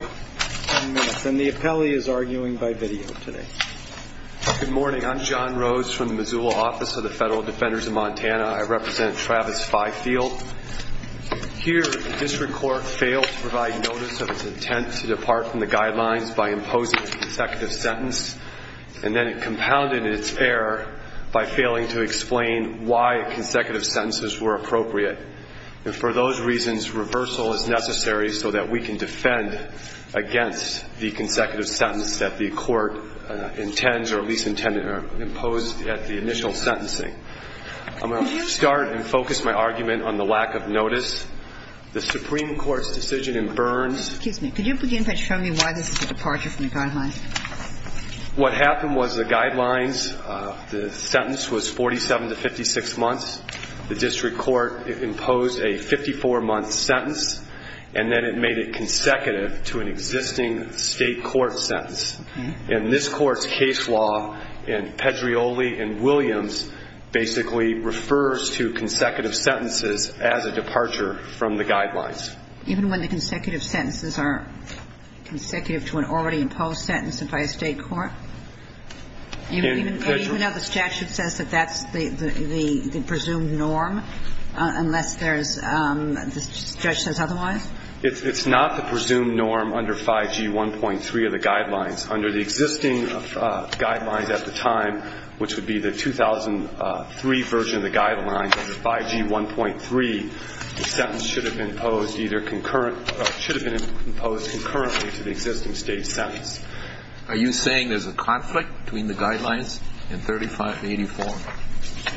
And the appellee is arguing by video today. Good morning, I'm John Rhodes from the Missoula Office of the Federal Defenders of Montana. I represent Travis Fifield. Here, the district court failed to provide notice of its intent to depart from the guidelines by imposing a consecutive sentence, and then it compounded its error by failing to explain why consecutive sentences were appropriate. And for those reasons, reversal is necessary so that we can defend against the consecutive sentence that the court intends or at least intended or imposed at the initial sentencing. I'm going to start and focus my argument on the lack of notice. The Supreme Court's decision in Burns – Excuse me. Could you begin by showing me why this is a departure from the guidelines? What happened was the guidelines, the sentence was 47 to 56 months. The district court imposed a 54-month sentence, and then it made it consecutive to an existing State court sentence. And this Court's case law in Pedreoli v. Williams basically refers to consecutive sentences as a departure from the guidelines. Even when the consecutive sentences are consecutive to an already imposed sentence by a State court? And even though the statute says that that's the presumed norm, unless there's – the judge says otherwise? It's not the presumed norm under 5G1.3 of the guidelines. Under the existing guidelines at the time, which would be the 2003 version of the guidelines, under 5G1.3, the sentence should have been imposed either concurrent – should have been imposed concurrently to the existing State sentence. Are you saying there's a conflict between the guidelines in 35 and 84?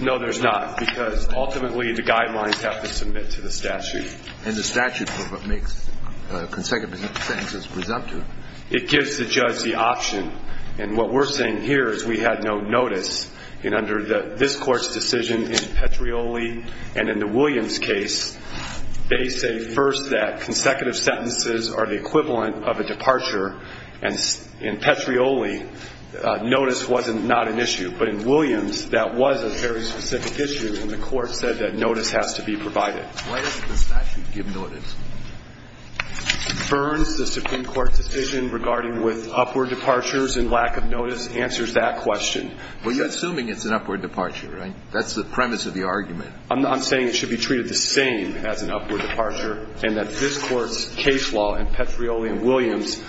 No, there's not, because ultimately the guidelines have to submit to the statute. And the statute makes consecutive sentences presumptive. It gives the judge the option. And what we're saying here is we had no notice. And under this Court's decision in Pedreoli and in the Williams case, they say first that consecutive sentences are the equivalent of a departure, and in Pedreoli notice was not an issue. But in Williams, that was a very specific issue, and the Court said that notice has to be provided. Why doesn't the statute give notice? It confirms the Supreme Court decision regarding with upward departures and lack of notice answers that question. Well, you're assuming it's an upward departure, right? That's the premise of the argument. I'm saying it should be treated the same as an upward departure, and that this Court's case law in Pedreoli and Williams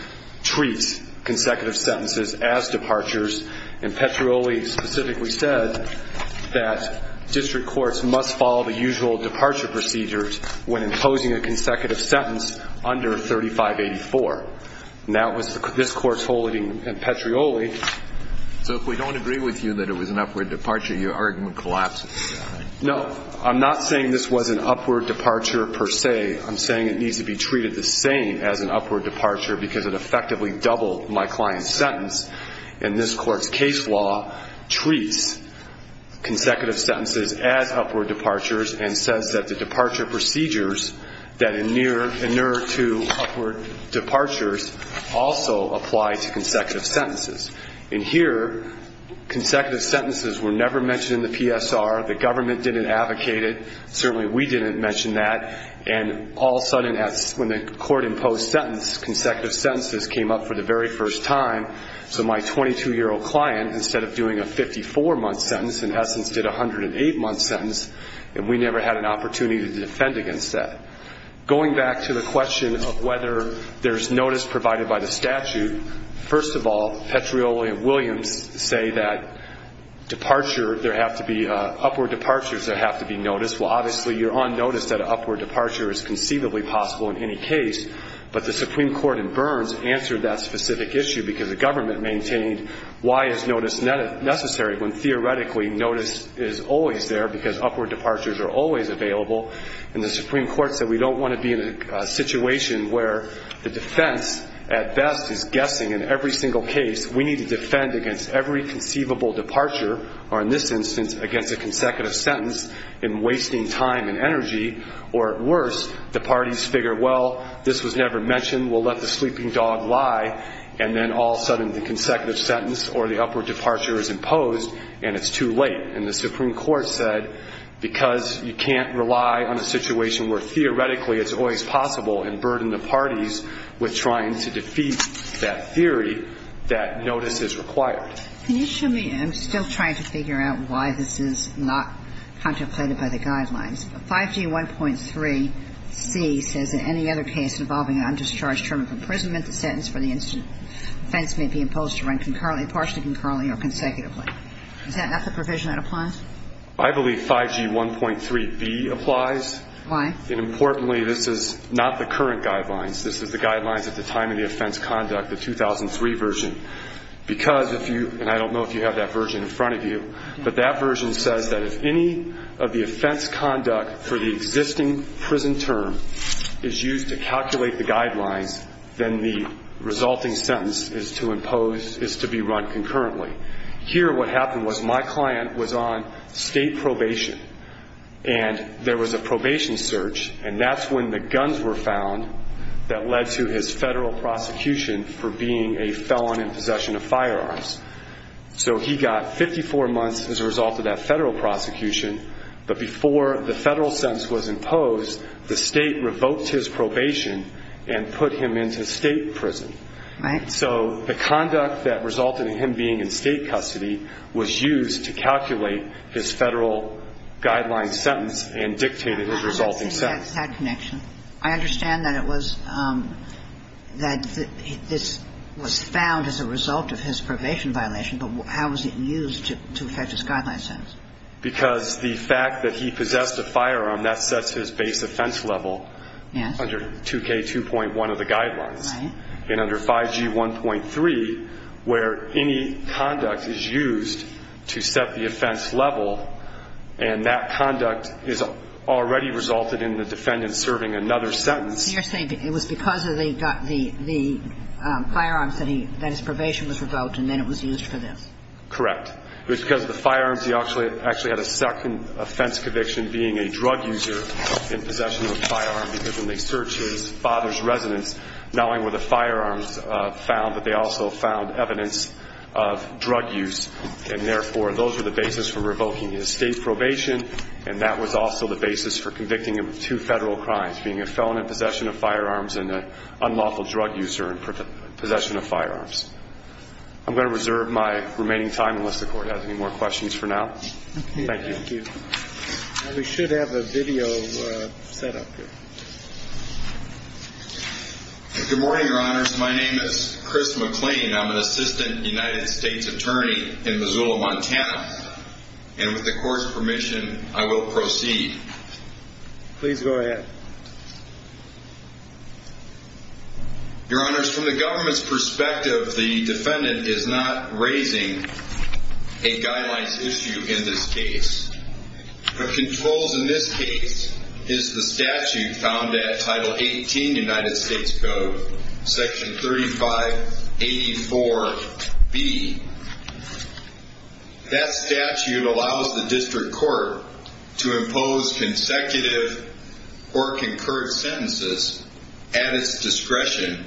treats consecutive sentences as departures. And Pedreoli specifically said that district courts must follow the usual departure procedures when imposing a consecutive sentence under 3584. And that was this Court's holding in Pedreoli. So if we don't agree with you that it was an upward departure, your argument collapses? No. I'm not saying this was an upward departure per se. I'm saying it needs to be treated the same as an upward departure because it effectively doubled my client's sentence. And this Court's case law treats consecutive sentences as upward departures and says that the departure procedures that inure to upward departures also apply to consecutive sentences. And here, consecutive sentences were never mentioned in the PSR. The government didn't advocate it. Certainly we didn't mention that. And all of a sudden, when the Court imposed sentence, consecutive sentences came up for the very first time. So my 22-year-old client, instead of doing a 54-month sentence, in essence did a 108-month sentence, and we never had an opportunity to defend against that. Going back to the question of whether there's notice provided by the statute, first of all, Petrioli and Williams say that upward departures have to be noticed. Well, obviously you're on notice that an upward departure is conceivably possible in any case, but the Supreme Court in Burns answered that specific issue because the government maintained why is notice necessary when theoretically notice is always there because upward departures are always available. And the Supreme Court said we don't want to be in a situation where the defense at best is guessing in every single case we need to defend against every conceivable departure, or in this instance, against a consecutive sentence, in wasting time and energy, or at worst, the parties figure, well, this was never mentioned, we'll let the sleeping dog lie, and then all of a sudden the consecutive sentence or the upward departure is imposed and it's too late. And the Supreme Court said because you can't rely on a situation where theoretically it's always possible and burden the parties with trying to defeat that theory, that notice is required. Can you show me? I'm still trying to figure out why this is not contemplated by the guidelines. 5G1.3C says that any other case involving an undischarged term of imprisonment, the sentence for the offense may be imposed to run concurrently, partially concurrently, or consecutively. Is that not the provision that applies? I believe 5G1.3B applies. Why? Importantly, this is not the current guidelines. This is the guidelines at the time of the offense conduct, the 2003 version, because if you, and I don't know if you have that version in front of you, but that version says that if any of the offense conduct for the existing prison term is used to calculate the guidelines, then the resulting sentence is to impose, is to be run concurrently. Here what happened was my client was on state probation, and there was a search, and that's when the guns were found that led to his federal prosecution for being a felon in possession of firearms. So he got 54 months as a result of that federal prosecution. But before the federal sentence was imposed, the state revoked his probation and put him into state prison. So the conduct that resulted in him being in state custody was used to calculate his federal guideline sentence and dictated his resulting sentence. I don't think that's that connection. I understand that it was, that this was found as a result of his probation violation, but how was it used to effect his guideline sentence? Because the fact that he possessed a firearm, that sets his base offense level. Yes. Under 2K2.1 of the guidelines. Right. And under 5G1.3, where any conduct is used to set the offense level, and that conduct is already resulted in the defendant serving another sentence. You're saying it was because of the firearms that his probation was revoked, and then it was used for this. Correct. Because of the firearms, he actually had a second offense conviction, being a drug user in possession of a firearm, because when they searched his father's residence, not only were the firearms found, but they also found evidence of drug use. And, therefore, those were the basis for revoking his state probation, and that was also the basis for convicting him of two federal crimes, being a felon in possession of firearms and an unlawful drug user in possession of firearms. I'm going to reserve my remaining time unless the Court has any more questions for now. Thank you. Thank you. We should have a video set up here. Good morning, Your Honors. My name is Chris McLean. I'm an assistant United States attorney in Missoula, Montana. And with the Court's permission, I will proceed. Your Honors, from the government's perspective, the defendant is not raising a guidelines issue in this case. The controls in this case is the statute found at Title 18 United States Code, Section 3584B. That statute allows the district court to impose consecutive or concurred sentences at its discretion,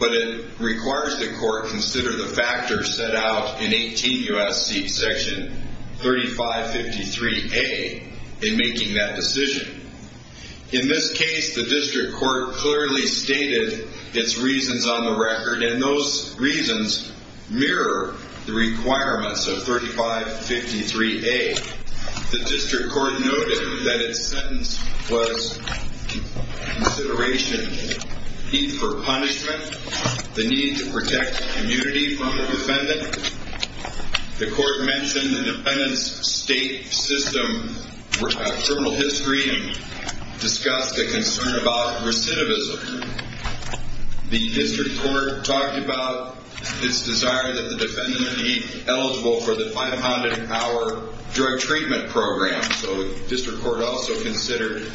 but it requires the court consider the factors set out in 18 U.S.C. Section 3553A in making that decision. In this case, the district court clearly stated its reasons on the record, and those reasons mirror the requirements of 3553A. The district court noted that its sentence was consideration, need for punishment, the need to protect the community from the defendant. The court mentioned the defendant's state system, criminal history, and discussed a concern about recidivism. The district court talked about its desire that the defendant be eligible for the 500-hour drug treatment program, so the district court also considered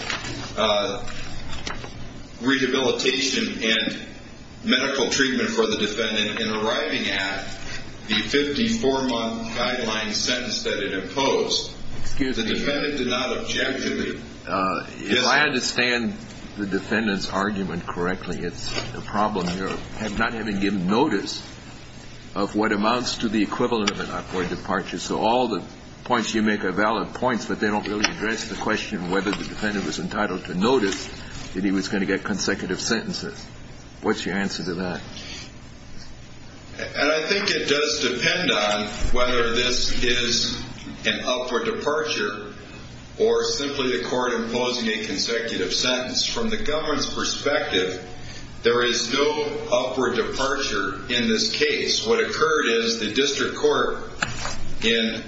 rehabilitation and medical treatment for the defendant in arriving at the 54-month guideline sentence that it imposed. The defendant did not objectively disagree. If I understand the defendant's argument correctly, it's the problem here of not having given notice of what amounts to the equivalent of an upward departure, so all the points you make are valid points, but they don't really address the question of whether the defendant was entitled to notice that he was going to get consecutive sentences. What's your answer to that? And I think it does depend on whether this is an upward departure or simply the court imposing a consecutive sentence. From the government's perspective, there is no upward departure in this case. What occurred is the district court, in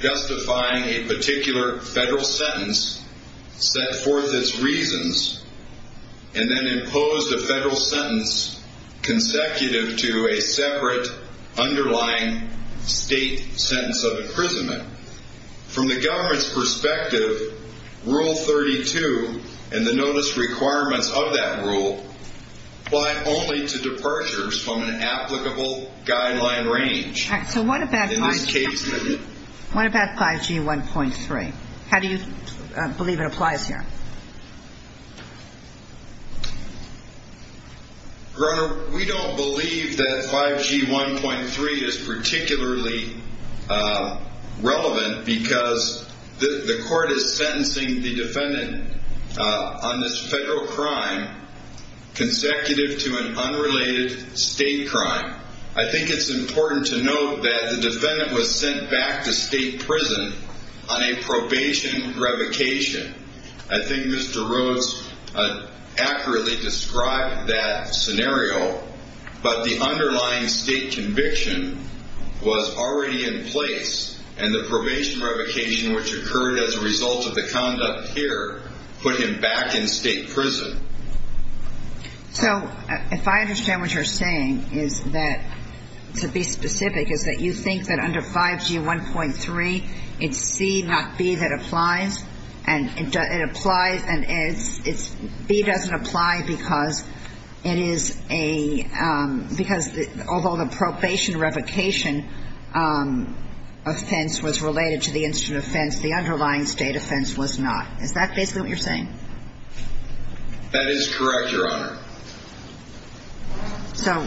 justifying a particular federal sentence, set forth its reasons and then imposed a federal sentence consecutive to a separate underlying state sentence of imprisonment. From the government's perspective, Rule 32 and the notice requirements of that rule apply only to departures from an applicable guideline range. So what about 5G? What about 5G 1.3? How do you believe it applies here? Your Honor, we don't believe that 5G 1.3 is particularly relevant because the court is sentencing the defendant on this federal crime consecutive to an unrelated state crime. I think it's important to note that the defendant was sent back to state prison on a probation revocation. I think Mr. Rhodes accurately described that scenario, but the underlying state conviction was already in place and the probation revocation, which occurred as a result of the conduct here, put him back in state prison. So if I understand what you're saying is that, to be specific, is that you think that under 5G 1.3 it's C, not B, that applies? B doesn't apply because although the probation revocation offense was related to the incident offense, the underlying state offense was not. Is that basically what you're saying? That is correct, Your Honor. So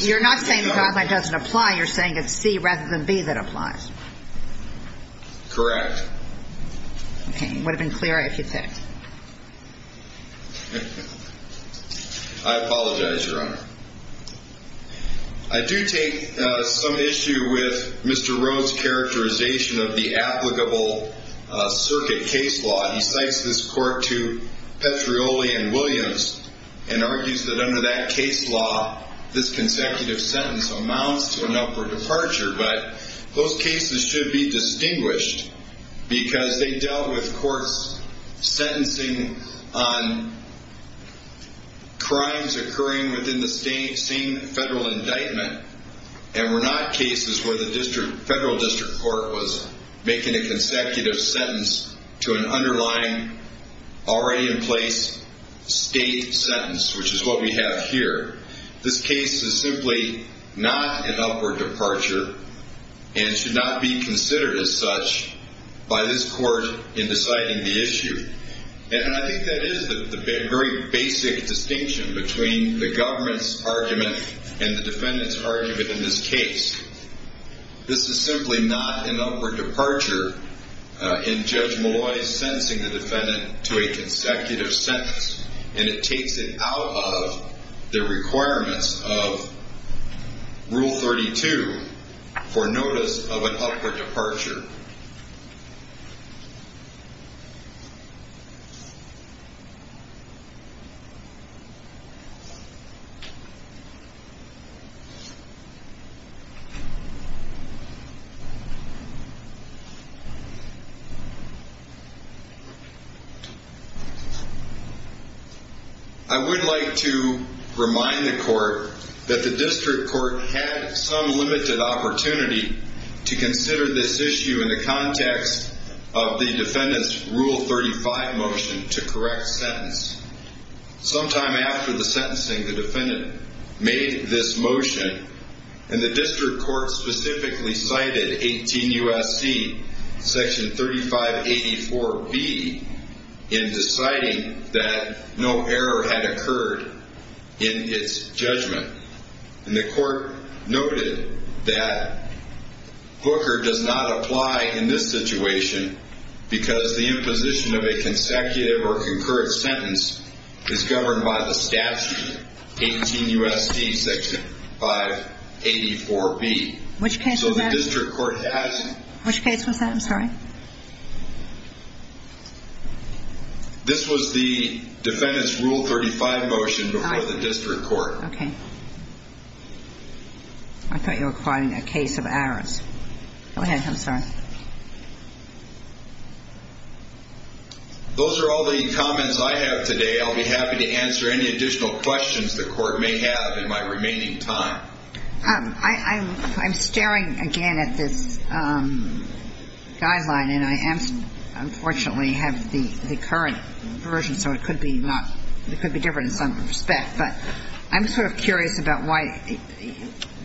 you're not saying the guideline doesn't apply. You're saying it's C rather than B that applies. Correct. Okay. It would have been clearer if you'd said it. I apologize, Your Honor. I do take some issue with Mr. Rhodes' characterization of the applicable circuit case law. He cites this court to Petrioli and Williams and argues that under that case law, this consecutive sentence amounts to an upward departure, but those cases should be distinguished because they dealt with courts sentencing on crimes occurring within the same federal indictment and were not cases where the federal district court was making a consecutive sentence to an underlying, already in place, state sentence, which is what we have here. This case is simply not an upward departure and should not be considered as such by this court in deciding the issue. And I think that is the very basic distinction between the government's argument and the defendant's argument in this case. This is simply not an upward departure in Judge Molloy's sentencing the defendant to a consecutive sentence, and it takes it out of the requirements of Rule 32 for notice of an upward departure. I would like to remind the court that the district court had some limited opportunity to consider this issue in the context of the defendant's Rule 35 motion to correct sentence. Sometime after the sentencing, the defendant made this motion, and the district court specifically cited 18 U.S.C., Section 3584B, in deciding that no error had occurred in its judgment. And the court noted that Booker does not apply in this situation because the imposition of a consecutive or concurrent sentence is governed by the statute, 18 U.S.C., Section 584B. Which case was that? So the district court has... Which case was that? I'm sorry. This was the defendant's Rule 35 motion before the district court. Okay. I thought you were calling a case of errors. Go ahead. I'm sorry. Those are all the comments I have today. I'll be happy to answer any additional questions the court may have in my remaining time. I'm staring again at this guideline, and I unfortunately have the current version, so it could be different in some respect. But I'm sort of curious about why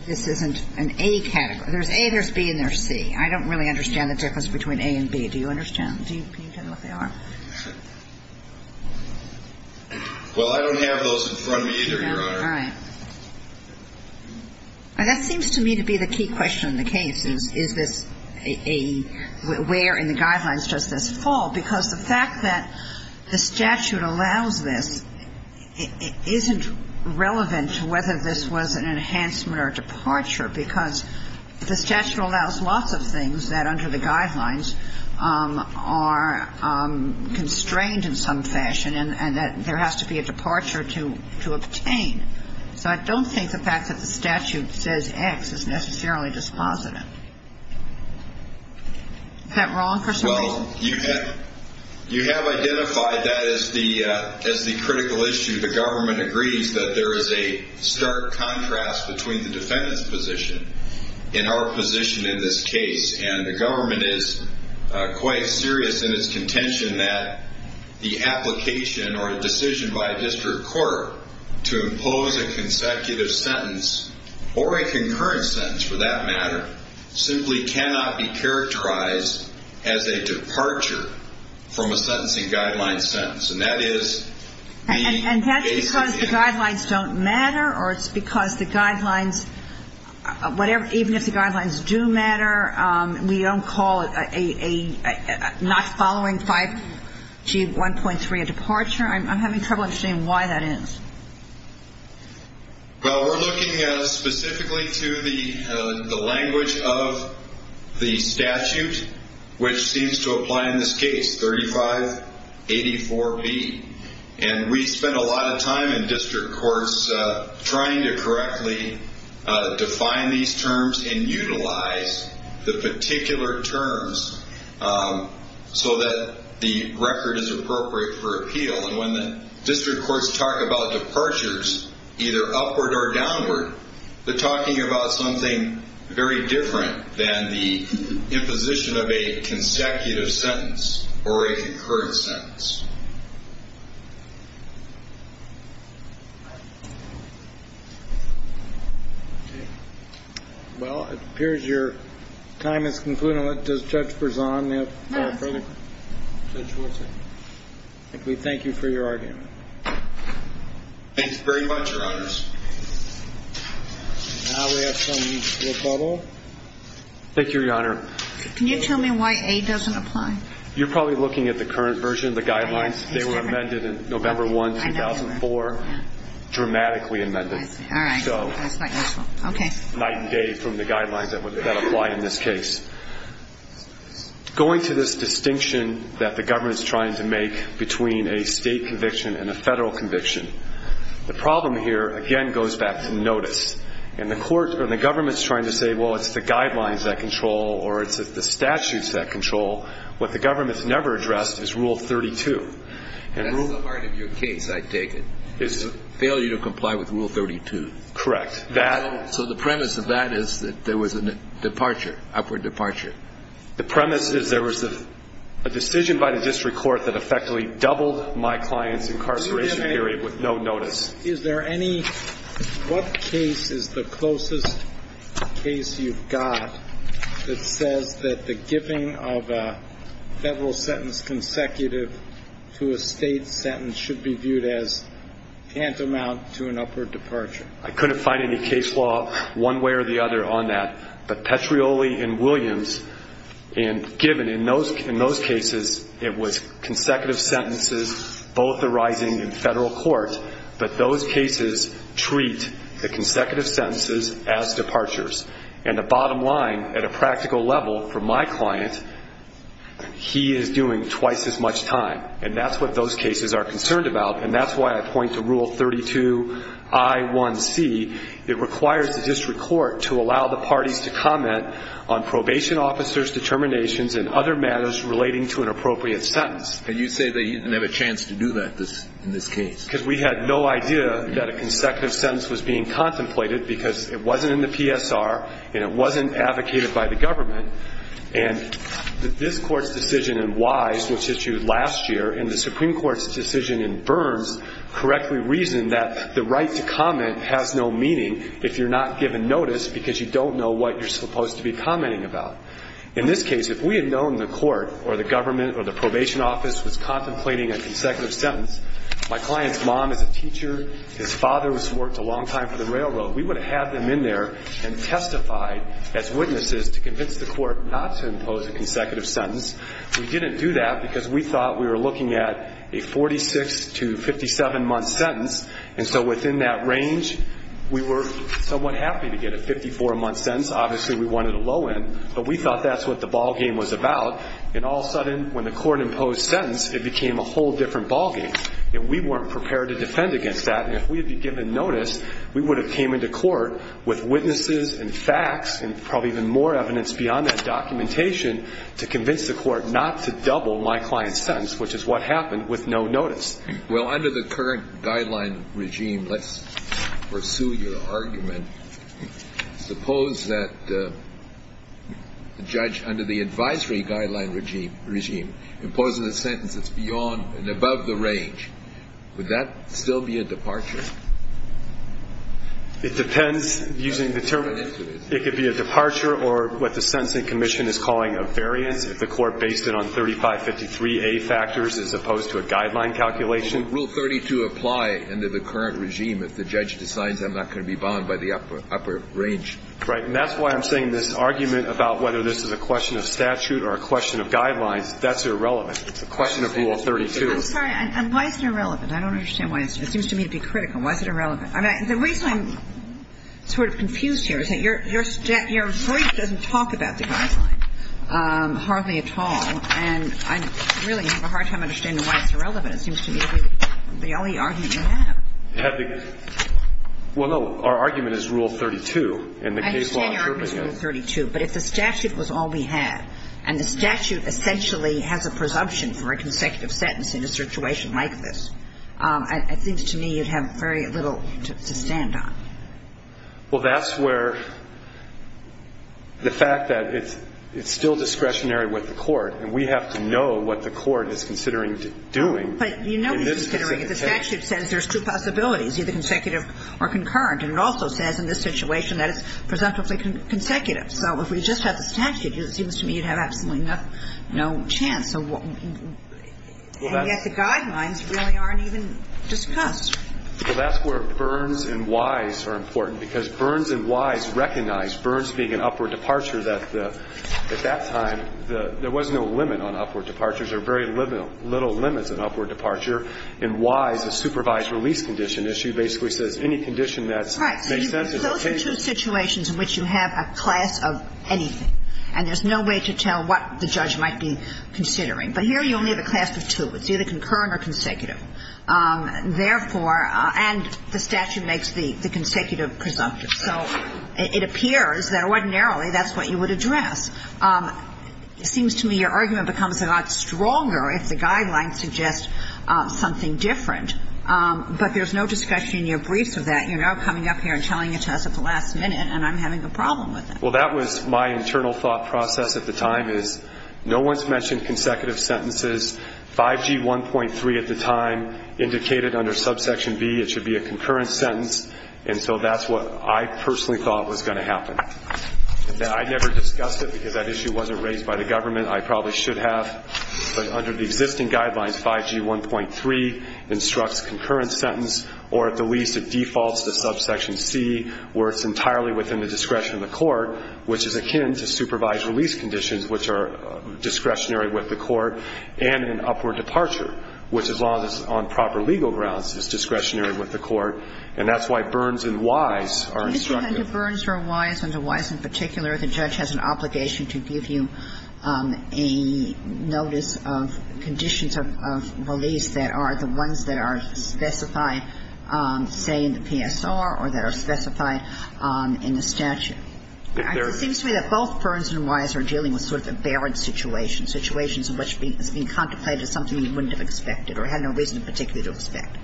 this isn't an A category. There's A, there's B, and there's C. I don't really understand the difference between A and B. Do you understand? Can you tell me what they are? Well, I don't have those in front of me either, Your Honor. All right. That seems to me to be the key question in the case. Is this a – where in the guidelines does this fall? Because the fact that the statute allows this isn't relevant to whether this was an enhancement or departure, because the statute allows lots of things that under the guidelines are constrained in some fashion, and that there has to be a departure to obtain. So I don't think the fact that the statute says X is necessarily dispositive. Is that wrong for some reason? Well, you have identified that as the critical issue. The government agrees that there is a stark contrast between the defendant's position and our position in this case, and the government is quite serious in its contention that the application or decision by a district court to impose a consecutive sentence or a concurrent sentence, for that matter, simply cannot be characterized as a departure from a sentencing guideline sentence. And that is the basis here. And that's because the guidelines don't matter, or it's because the guidelines – even if the guidelines do matter, we don't call not following 5G 1.3 a departure. I'm having trouble understanding why that is. Well, we're looking specifically to the language of the statute, which seems to apply in this case, 3584B. And we spent a lot of time in district courts trying to correctly define these terms and utilize the particular terms so that the record is appropriate for appeal. And when the district courts talk about departures, either upward or downward, they're talking about something very different than the imposition of a consecutive sentence or a concurrent sentence. Okay. Well, it appears your time has concluded. Does Judge Berzon have further questions? No. Judge Wilson. We thank you for your argument. Thanks very much, Your Honors. Now we have some from the public. Thank you, Your Honor. Can you tell me why A doesn't apply? You're probably looking at the current version of the guidelines. They were amended in November 1, 2004. Dramatically amended. All right. That's not useful. Night and day from the guidelines that apply in this case. Going to this distinction that the government is trying to make between a state conviction and a federal conviction, the problem here, again, goes back to notice. And the government is trying to say, well, it's the guidelines that control or it's the statutes that control. What the government has never addressed is Rule 32. That's the heart of your case, I take it. It's a failure to comply with Rule 32. Correct. So the premise of that is that there was a departure, upward departure. The premise is there was a decision by the district court that effectively doubled my client's incarceration period with no notice. Is there any what case is the closest case you've got that says that the giving of a federal sentence consecutive to a state sentence should be viewed as tantamount to an upward departure? I couldn't find any case law one way or the other on that. But Petrioli and Williams, and given in those cases it was consecutive sentences, both arising in federal court, but those cases treat the consecutive sentences as departures. And the bottom line at a practical level for my client, he is doing twice as much time. And that's what those cases are concerned about. And that's why I point to Rule 32I1C. It requires the district court to allow the parties to comment on probation officers' determinations and other matters relating to an appropriate sentence. And you say they didn't have a chance to do that in this case. Because we had no idea that a consecutive sentence was being contemplated because it wasn't in the PSR and it wasn't advocated by the government. And this Court's decision in Wise, which issued last year, and the Supreme Court's decision in Burns correctly reasoned that the right to comment has no meaning if you're not given notice because you don't know what you're supposed to be commenting about. In this case, if we had known the court or the government or the probation office was contemplating a consecutive sentence, my client's mom is a teacher, his father has worked a long time for the railroad. We would have had them in there and testified as witnesses to convince the court not to impose a consecutive sentence. We didn't do that because we thought we were looking at a 46 to 57-month sentence, and so within that range, we were somewhat happy to get a 54-month sentence. Obviously, we wanted a low end, but we thought that's what the ball game was about. And all of a sudden, when the court imposed sentence, it became a whole different ball game. And we weren't prepared to defend against that. And if we had been given notice, we would have came into court with witnesses and facts and probably even more evidence beyond that documentation to convince the court not to double my client's sentence, which is what happened with no notice. Well, under the current guideline regime, let's pursue your argument. It depends. It could be a departure or what the sentencing commission is calling a variance if the court based it on 3553A factors as opposed to a guideline calculation. Rule 32 apply under the current regime if the judge decides I'm not going to be bound by the upper range. Right. And that's why I'm saying this argument about whether this is a question of statute or a question of guidelines, that's irrelevant. It's a question of principle. I'm sorry. Why is it irrelevant? I don't understand why. It seems to me to be critical. Why is it irrelevant? The reason I'm sort of confused here is that your brief doesn't talk about the guideline hardly at all. And I really have a hard time understanding why it's irrelevant. It seems to me to be the only argument you have. Well, no. Our argument is Rule 32. I understand your argument is Rule 32. But if the statute was all we had and the statute essentially has a presumption for a consecutive sentence in a situation like this, I think to me you'd have very little to stand on. Well, that's where the fact that it's still discretionary with the court, and we have to know what the court is considering doing in this case. But you know what it's considering. If the statute says there's two possibilities, either consecutive or concurrent, and it also says in this situation that it's presumptively consecutive. So if we just had the statute, it seems to me you'd have absolutely no chance. And yet the guidelines really aren't even discussed. Well, that's where Byrnes and Wise are important, because Byrnes and Wise recognize Byrnes being an upward departure that at that time there was no limit on upward departures or very little limits on upward departure. And Wise, a supervised release condition issue, basically says any condition that makes sense is occasional. Right. So those are two situations in which you have a class of anything, and there's no way to tell what the judge might be considering. But here you only have a class of two. It's either concurrent or consecutive. Therefore, and the statute makes the consecutive presumptive. So it appears that ordinarily that's what you would address. It seems to me your argument becomes a lot stronger if the guidelines suggest something different. But there's no discussion in your briefs of that, you know, coming up here and telling it to us at the last minute, and I'm having a problem with it. Well, that was my internal thought process at the time is no one's mentioned consecutive sentences. 5G 1.3 at the time indicated under subsection B it should be a concurrent sentence, and so that's what I personally thought was going to happen. I never discussed it because that issue wasn't raised by the government. I probably should have. But under the existing guidelines, 5G 1.3 instructs concurrent sentence, or at the least it defaults to subsection C where it's entirely within the discretion of the court, which is akin to supervised release conditions, which are discretionary with the court, and an upward departure, which, as long as it's on proper legal grounds, is discretionary with the court. And that's why Burns and Wise are instructive. Mr. Hunter, Burns or Wise, under Wise in particular, the judge has an obligation to give you a notice of conditions of release that are the ones that are specified, say, in the PSR or that are specified in the statute. It seems to me that both Burns and Wise are dealing with sort of a barren situation, situations in which it's being contemplated as something you wouldn't have expected or had no reason in particular to expect.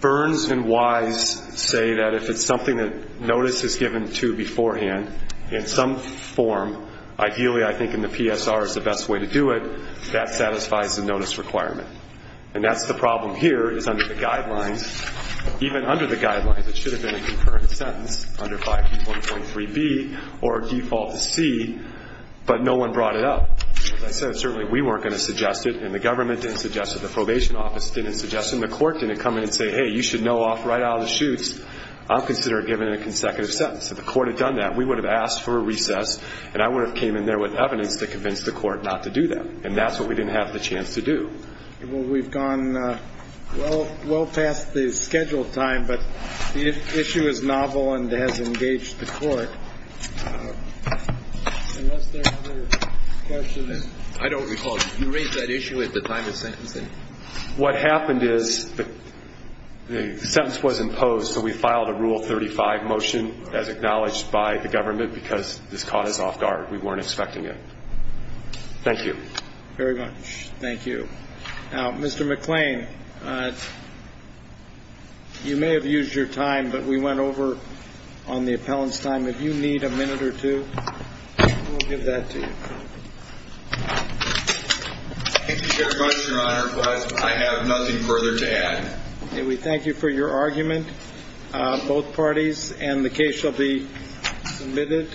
Burns and Wise say that if it's something that notice is given to beforehand in some form, ideally I think in the PSR is the best way to do it, that satisfies the notice requirement. And that's the problem here, is under the guidelines, even under the guidelines, it should have been a concurrent sentence under 5E1.3B or default to C, but no one brought it up. As I said, certainly we weren't going to suggest it, and the government didn't suggest it, the probation office didn't suggest it, and the court didn't come in and say, hey, you should know off right out of the chutes, I'll consider it given in a consecutive sentence. If the court had done that, we would have asked for a recess, and I would have came in there with evidence to convince the court not to do that. And that's what we didn't have the chance to do. We've gone well past the scheduled time, but the issue is novel and has engaged the court. Unless there are other questions. I don't recall you raised that issue at the time of sentencing. What happened is the sentence was imposed, so we filed a Rule 35 motion, as acknowledged by the government, because this cause is off guard. We weren't expecting it. Thank you. Very much. Thank you. Now, Mr. McClain, you may have used your time, but we went over on the appellant's time. If you need a minute or two, we'll give that to you. Thank you very much, Your Honor. I have nothing further to add. We thank you for your argument. Both parties, and the case shall be submitted.